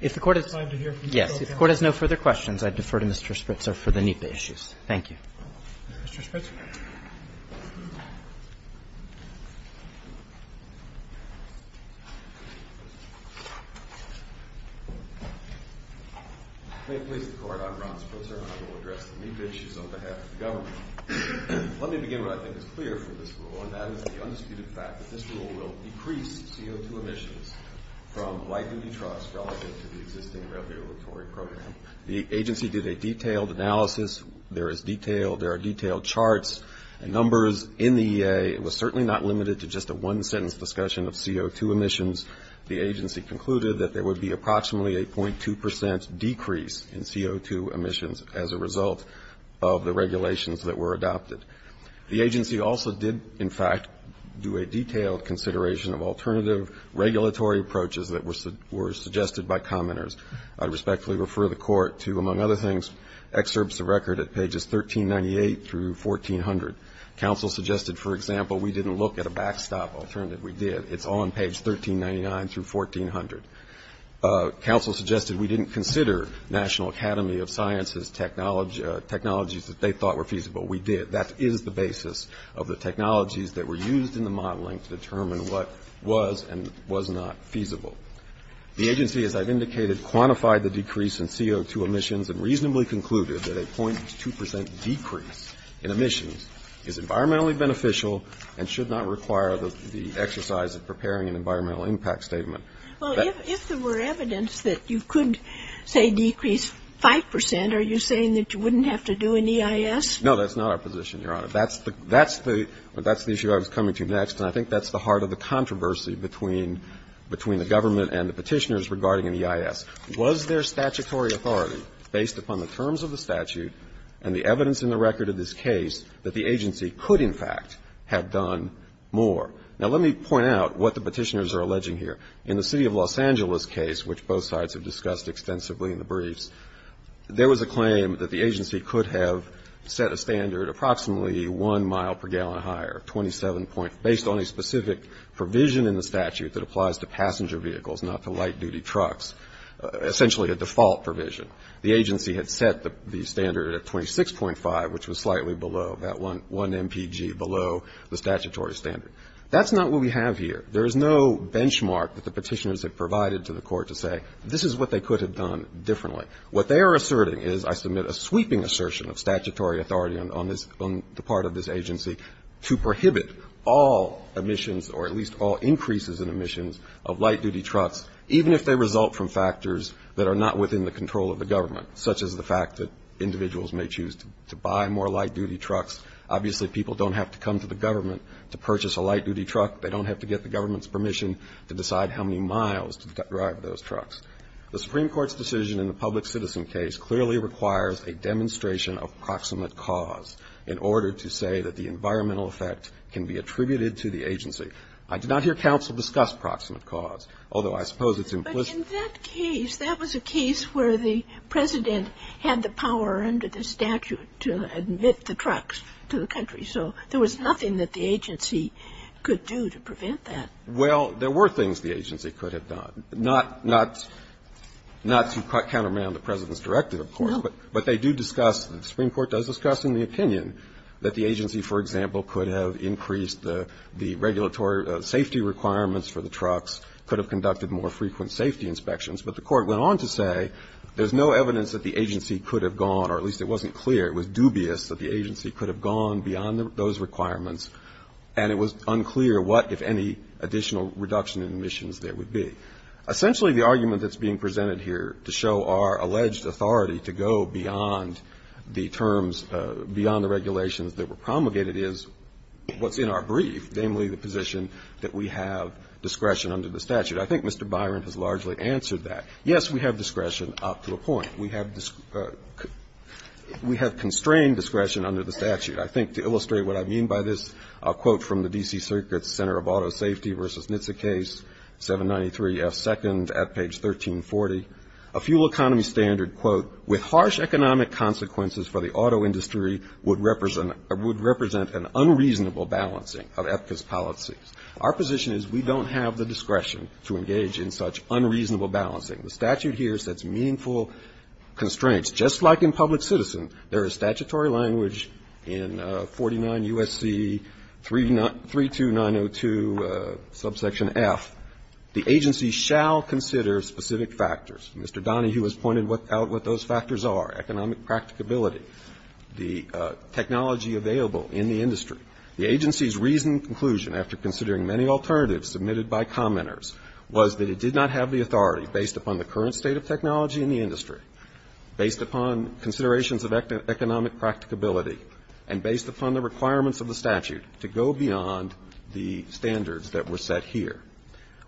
If the Court has no further questions, I defer to Mr. Spritzer for the NEPA issues. Thank you. Mr. Spritzer. May it please the Court. I'm Ron Spritzer and I will address the NEPA issues on behalf of the government. Let me begin what I think is clear from this rule, and that is the undisputed fact that this rule will decrease CO2 emissions from light duty trucks relative to the existing regulatory program. The agency did a detailed analysis. There are detailed charts and numbers in the EA. It was certainly not limited to just a one-sentence discussion of CO2 emissions. The agency concluded that there would be approximately a .2 percent decrease in CO2 emissions as a result of the regulations that were adopted. The agency also did, in fact, do a detailed consideration of alternative regulatory approaches that were suggested by commenters. I respectfully refer the Court to, among other things, excerpts of record at pages 1398 through 1400. Counsel suggested, for example, we didn't look at a backstop alternative. We did. It's on page 1399 through 1400. Counsel suggested we didn't consider National Academy of Sciences technologies that they thought were feasible. We did. That is the basis of the technologies that were used in the modeling to determine what was and was not feasible. The agency, as I've indicated, quantified the decrease in CO2 emissions and reasonably concluded that a .2 percent decrease in emissions is environmentally beneficial and should not require the exercise of preparing an environmental impact statement. Well, if there were evidence that you could, say, decrease 5 percent, are you saying that you wouldn't have to do an EIS? No, that's not our position, Your Honor. That's the issue I was coming to next, and I think that's the heart of the controversy between the government and the Petitioners regarding an EIS. Was there statutory authority, based upon the terms of the statute and the evidence in the record of this case, that the agency could, in fact, have done more? Now, let me point out what the Petitioners are alleging here. In the City of Los Angeles case, which both sides have discussed extensively in the briefs, there was a claim that the agency could have set a standard approximately one mile per gallon higher, 27 point, based on a specific provision in the statute that applies to passenger vehicles, not to light-duty trucks, essentially a default provision. The agency had set the standard at 26.5, which was slightly below, that one MPG below the statutory standard. That's not what we have here. There is no benchmark that the Petitioners have provided to the Court to say this is what they could have done differently. What they are asserting is, I submit, a sweeping assertion of statutory authority on this, on the part of this agency to prohibit all emissions or at least all increases in emissions of light-duty trucks, even if they result from factors that are not within the control of the government, such as the fact that individuals may choose to buy more light-duty trucks. Obviously, people don't have to come to the government to purchase a light-duty truck. They don't have to get the government's permission to decide how many miles to drive those trucks. The Supreme Court's decision in the public citizen case clearly requires a demonstration of proximate cause in order to say that the environmental effect can be attributed to the agency. I did not hear counsel discuss proximate cause, although I suppose it's implicit. Ginsburg. But in that case, that was a case where the President had the power under the statute to admit the trucks to the country. So there was nothing that the agency could do to prevent that. Well, there were things the agency could have done. Not to counterman the President's directive, of course. No. But they do discuss, the Supreme Court does discuss in the opinion that the agency, for example, could have increased the regulatory safety requirements for the trucks, could have conducted more frequent safety inspections. But the Court went on to say there's no evidence that the agency could have gone, or at least it wasn't clear, it was dubious that the agency could have gone beyond those requirements. And it was unclear what, if any, additional reduction in emissions there would be. Essentially, the argument that's being presented here to show our alleged authority to go beyond the terms, beyond the regulations that were promulgated is what's in our brief, namely the position that we have discretion under the statute. I think Mr. Byron has largely answered that. Yes, we have discretion up to a point. We have constrained discretion under the statute. I think to illustrate what I mean by this, a quote from the D.C. Circuit's Center of Auto Safety versus NHTSA case, 793F2nd at page 1340. A fuel economy standard, quote, with harsh economic consequences for the auto industry would represent an unreasonable balancing of EPCA's policies. Our position is we don't have the discretion to engage in such unreasonable balancing. The statute here sets meaningful constraints. Just like in public citizen, there is statutory language in 49 U.S.C. 32902 subsection F. The agency shall consider specific factors. Mr. Donahue has pointed out what those factors are, economic practicability, the technology available in the industry. The agency's reasoned conclusion after considering many alternatives submitted by commenters was that it did not have the authority based upon the current state of technology in the industry, based upon considerations of economic practicability, and based upon the requirements of the statute to go beyond the standards that were set here.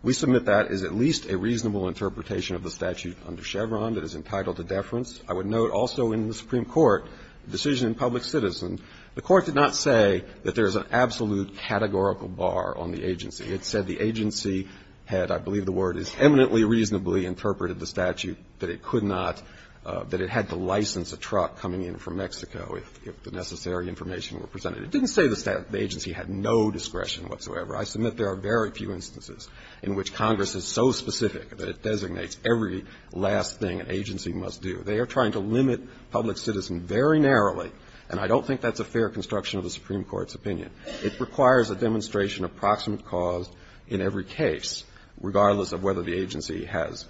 We submit that is at least a reasonable interpretation of the statute under Chevron that is entitled to deference. I would note also in the Supreme Court decision in public citizen, the Court did not say that there is an absolute categorical bar on the agency. It said the agency had, I believe the word is eminently reasonably interpreted the statute, that it could not, that it had to license a truck coming in from Mexico if the necessary information were presented. It didn't say the agency had no discretion whatsoever. I submit there are very few instances in which Congress is so specific that it designates every last thing an agency must do. They are trying to limit public citizen very narrowly, and I don't think that's a fair construction of the Supreme Court's opinion. It requires a demonstration of proximate cause in every case, regardless of whether the agency has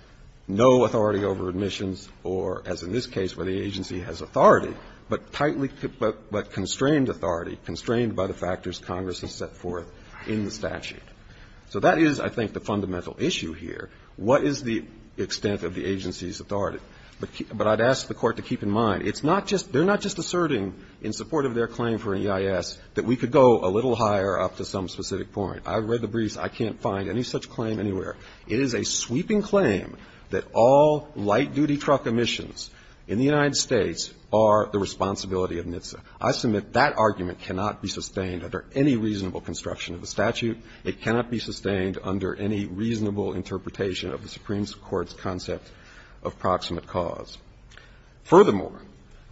no authority over admissions or, as in this case where the agency has authority, but tightly, but constrained authority, constrained by the factors Congress has set forth in the statute. So that is, I think, the fundamental issue here. What is the extent of the agency's authority? But I'd ask the Court to keep in mind, it's not just, they're not just asserting in support of their claim for an EIS that we could go a little higher up to some specific point. I read the briefs, I can't find any such claim anywhere. It is a sweeping claim that all light-duty truck admissions in the United States are the responsibility of NHTSA. I submit that argument cannot be sustained under any reasonable construction of the statute. It cannot be sustained under any reasonable interpretation of the Supreme Court's concept of proximate cause. Furthermore,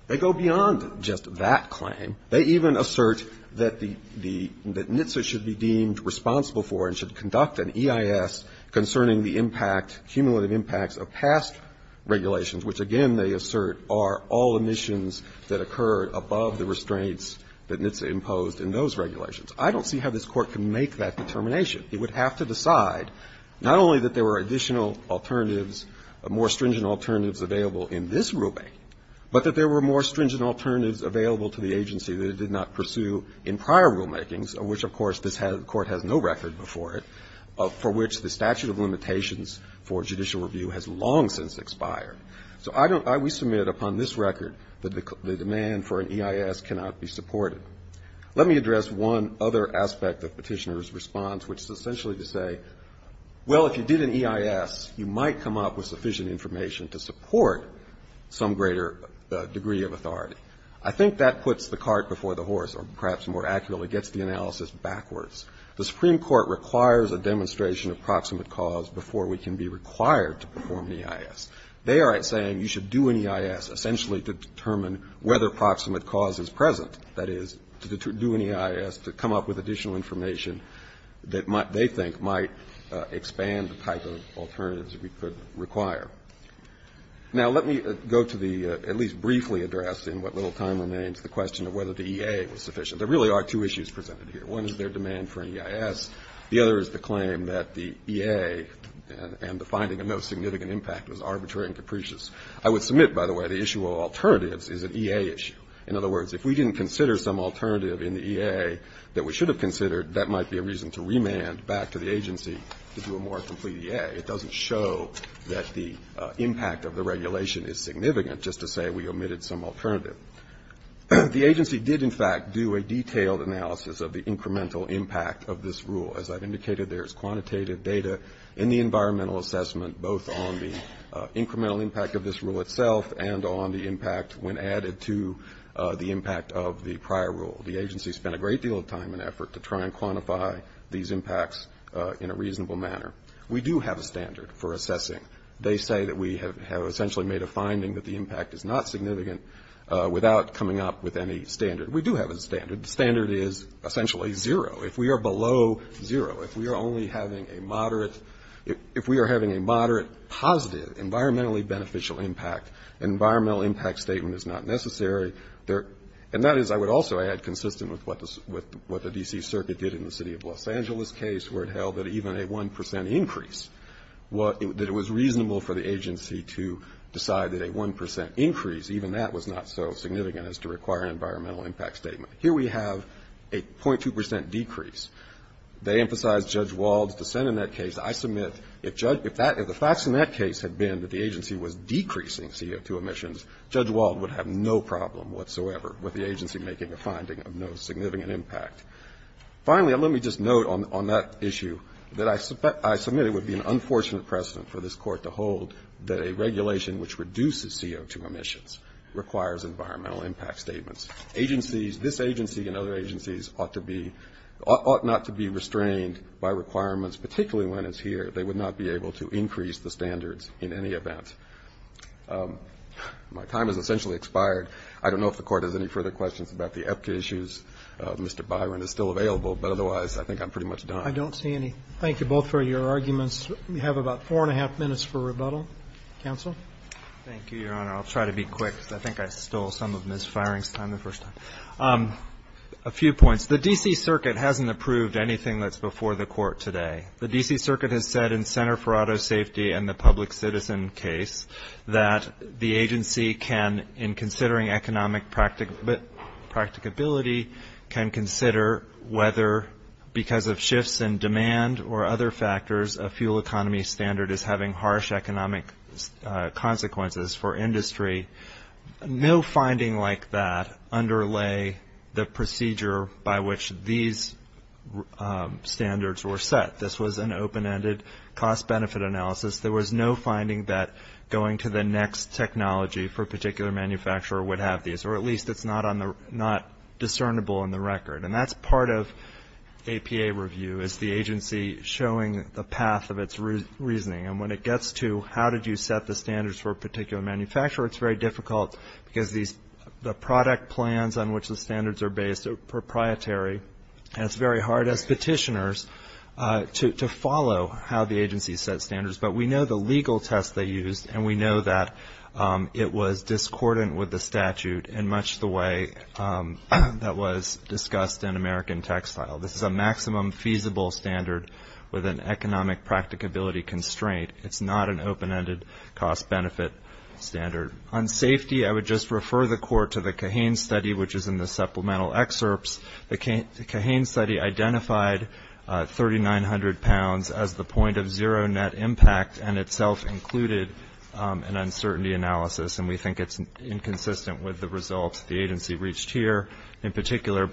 they go beyond just that claim. They even assert that the NHTSA should be deemed responsible for and should conduct an EIS concerning the impact, cumulative impacts of past regulations, which, again, they assert are all admissions that occur above the restraints that NHTSA imposed in those regulations. I don't see how this Court can make that determination. It would have to decide not only that there were additional alternatives, more stringent alternatives available in this rulemaking, but that there were more stringent alternatives available to the agency that it did not pursue in prior rulemakings, of which, of course, this Court has no record before it, for which the statute of limitations for judicial review has long since expired. So I don't, we submit upon this record that the demand for an EIS cannot be supported. Let me address one other aspect of Petitioner's response, which is essentially to say, well, if you did an EIS, you might come up with sufficient information to support some greater degree of authority. I think that puts the cart before the horse, or perhaps more accurately, gets the analysis backwards. The Supreme Court requires a demonstration of proximate cause before we can be required to perform an EIS. They are saying you should do an EIS essentially to determine whether proximate cause is present, that is, to do an EIS, to come up with additional information that they think might expand the type of alternatives that we could require. Now, let me go to the, at least briefly addressed in what little time remains, the question of whether the EA was sufficient. There really are two issues presented here. One is their demand for an EIS. The other is the claim that the EA and the finding of no significant impact was arbitrary and capricious. I would submit, by the way, the issue of alternatives is an EA issue. In other words, if we didn't consider some alternative in the EA that we should have considered, that might be a reason to remand back to the agency to do a more complete EA. It doesn't show that the impact of the regulation is significant, just to say we omitted some alternative. The agency did, in fact, do a detailed analysis of the incremental impact of this rule. As I've indicated, there is quantitative data in the environmental assessment, both on the impact of the prior rule. The agency spent a great deal of time and effort to try and quantify these impacts in a reasonable manner. We do have a standard for assessing. They say that we have essentially made a finding that the impact is not significant without coming up with any standard. We do have a standard. The standard is essentially zero. If we are below zero, if we are only having a moderate, if we are having a moderate positive environmentally beneficial impact, environmental impact statement is not necessary. And that is, I would also add, consistent with what the D.C. Circuit did in the city of Los Angeles case, where it held that even a 1 percent increase, that it was reasonable for the agency to decide that a 1 percent increase, even that was not so significant as to require an environmental impact statement. Here we have a .2 percent decrease. They emphasize Judge Wald's dissent in that case. I submit if the facts in that case had been that the agency was decreasing CO2 emissions, Judge Wald would have no problem whatsoever with the agency making a finding of no significant impact. Finally, let me just note on that issue that I submit it would be an unfortunate precedent for this Court to hold that a regulation which reduces CO2 emissions requires environmental impact statements. Agencies, this agency and other agencies ought to be, ought not to be restrained by requirements, particularly when it's here. They would not be able to increase the standards in any event. My time has essentially expired. I don't know if the Court has any further questions about the EPCA issues. Mr. Byron is still available, but otherwise I think I'm pretty much done. Roberts. I don't see any. Thank you both for your arguments. We have about four and a half minutes for rebuttal. Counsel. Thank you, Your Honor. I'll try to be quick because I think I stole some of Ms. Feiering's time the first A few points. The D.C. Circuit hasn't approved anything that's before the Court today. The D.C. Circuit has said in Center for Auto Safety and the Public Citizen case that the agency can, in considering economic practicability, can consider whether because of shifts in demand or other factors a fuel economy standard is having harsh economic consequences for industry. No finding like that underlay the procedure by which these standards were set. This was an open-ended cost-benefit analysis. There was no finding that going to the next technology for a particular manufacturer would have these, or at least it's not discernible in the record. And that's part of APA review is the agency showing the path of its reasoning. And when it gets to how did you set the standards for a particular manufacturer, it's very difficult because the product plans on which the standards are based are proprietary, and it's very hard as petitioners to follow how the agency sets standards. But we know the legal test they used, and we know that it was discordant with the statute in much the way that was discussed in American Textile. This is a maximum feasible standard with an economic practicability constraint. It's not an open-ended cost-benefit standard. On safety, I would just refer the court to the Kahane study, which is in the supplemental excerpts. The Kahane study identified 3,900 pounds as the point of zero net impact and itself included an uncertainty analysis, and we think it's inconsistent with the results the agency reached here, in particular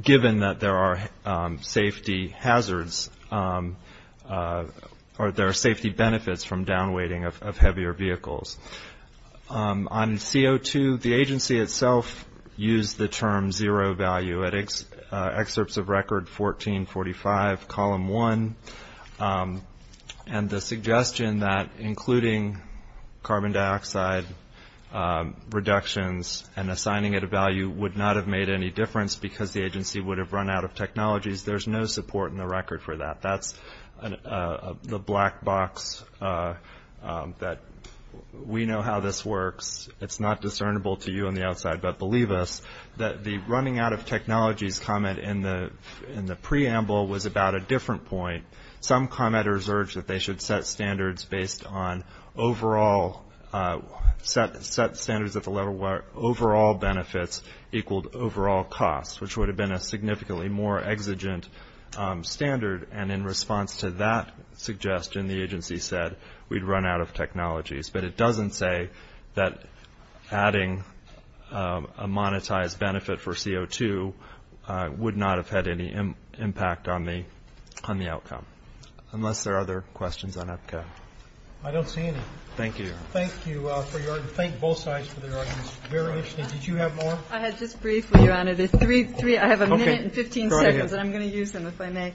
given that there are safety hazards or there are safety benefits from down-weighting of heavier vehicles. On CO2, the agency itself used the term zero value. Excerpts of record 1445, column 1, and the suggestion that including carbon dioxide reductions and assigning it a value would not have made any difference because the agency would have run out of technologies. There's no support in the record for that. That's the black box that we know how this works. It's not discernible to you on the outside, but believe us. The running out of technologies comment in the preamble was about a different point. Some commenters urged that they should set standards at the level where overall benefits equaled overall costs, which would have been a significantly more exigent standard, and in response to that suggestion, the agency said we'd run out of technologies. But it doesn't say that adding a monetized benefit for CO2 would not have had any impact on the outcome, unless there are other questions on EPCA. I don't see any. Thank you. Thank you for your argument. Thank both sides for their arguments. Very interesting. Did you have more? I had just briefly, Your Honor. I have a minute and 15 seconds, and I'm going to use them if I may.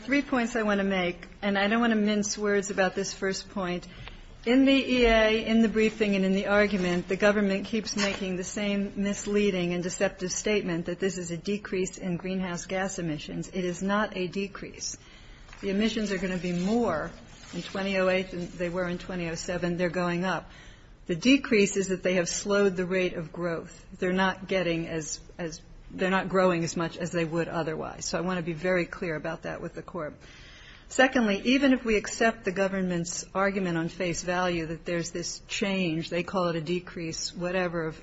Three points I want to make, and I don't want to mince words about this first point. In the EA, in the briefing, and in the argument, the government keeps making the same misleading and deceptive statement that this is a decrease in greenhouse gas emissions. It is not a decrease. The emissions are going to be more in 2008 than they were in 2007. They're going up. The decrease is that they have slowed the rate of growth. They're not growing as much as they would otherwise. So I want to be very clear about that with the Court. Secondly, even if we accept the government's argument on face value that there's this change, they call it a decrease, whatever, of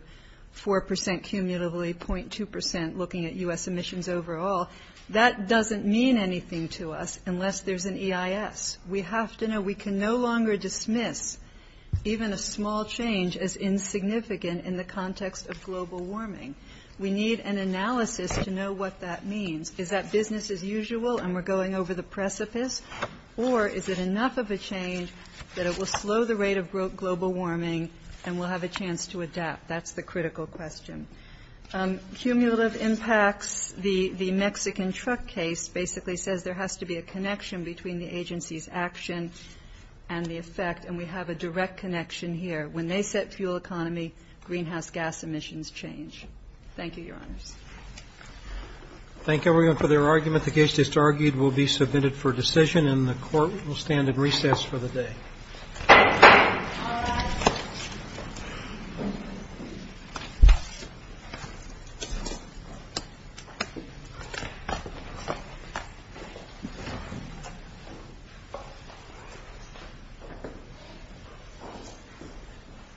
4% cumulatively, .2% looking at U.S. emissions overall, that doesn't mean anything to us unless there's an EIS. We have to know we can no longer dismiss even a small change as insignificant in the context of global warming. We need an analysis to know what that means. Is that business as usual and we're going over the precipice, or is it enough of a change that it will slow the rate of global warming and we'll have a chance to adapt? That's the critical question. Cumulative impacts, the Mexican truck case basically says there has to be a connection between the agency's action and the effect, and we have a direct connection here. When they set fuel economy, greenhouse gas emissions change. Thank you, Your Honors. Thank you, everyone, for their argument. The case just argued will be submitted for decision and the Court will stand in recess for the day. All rise.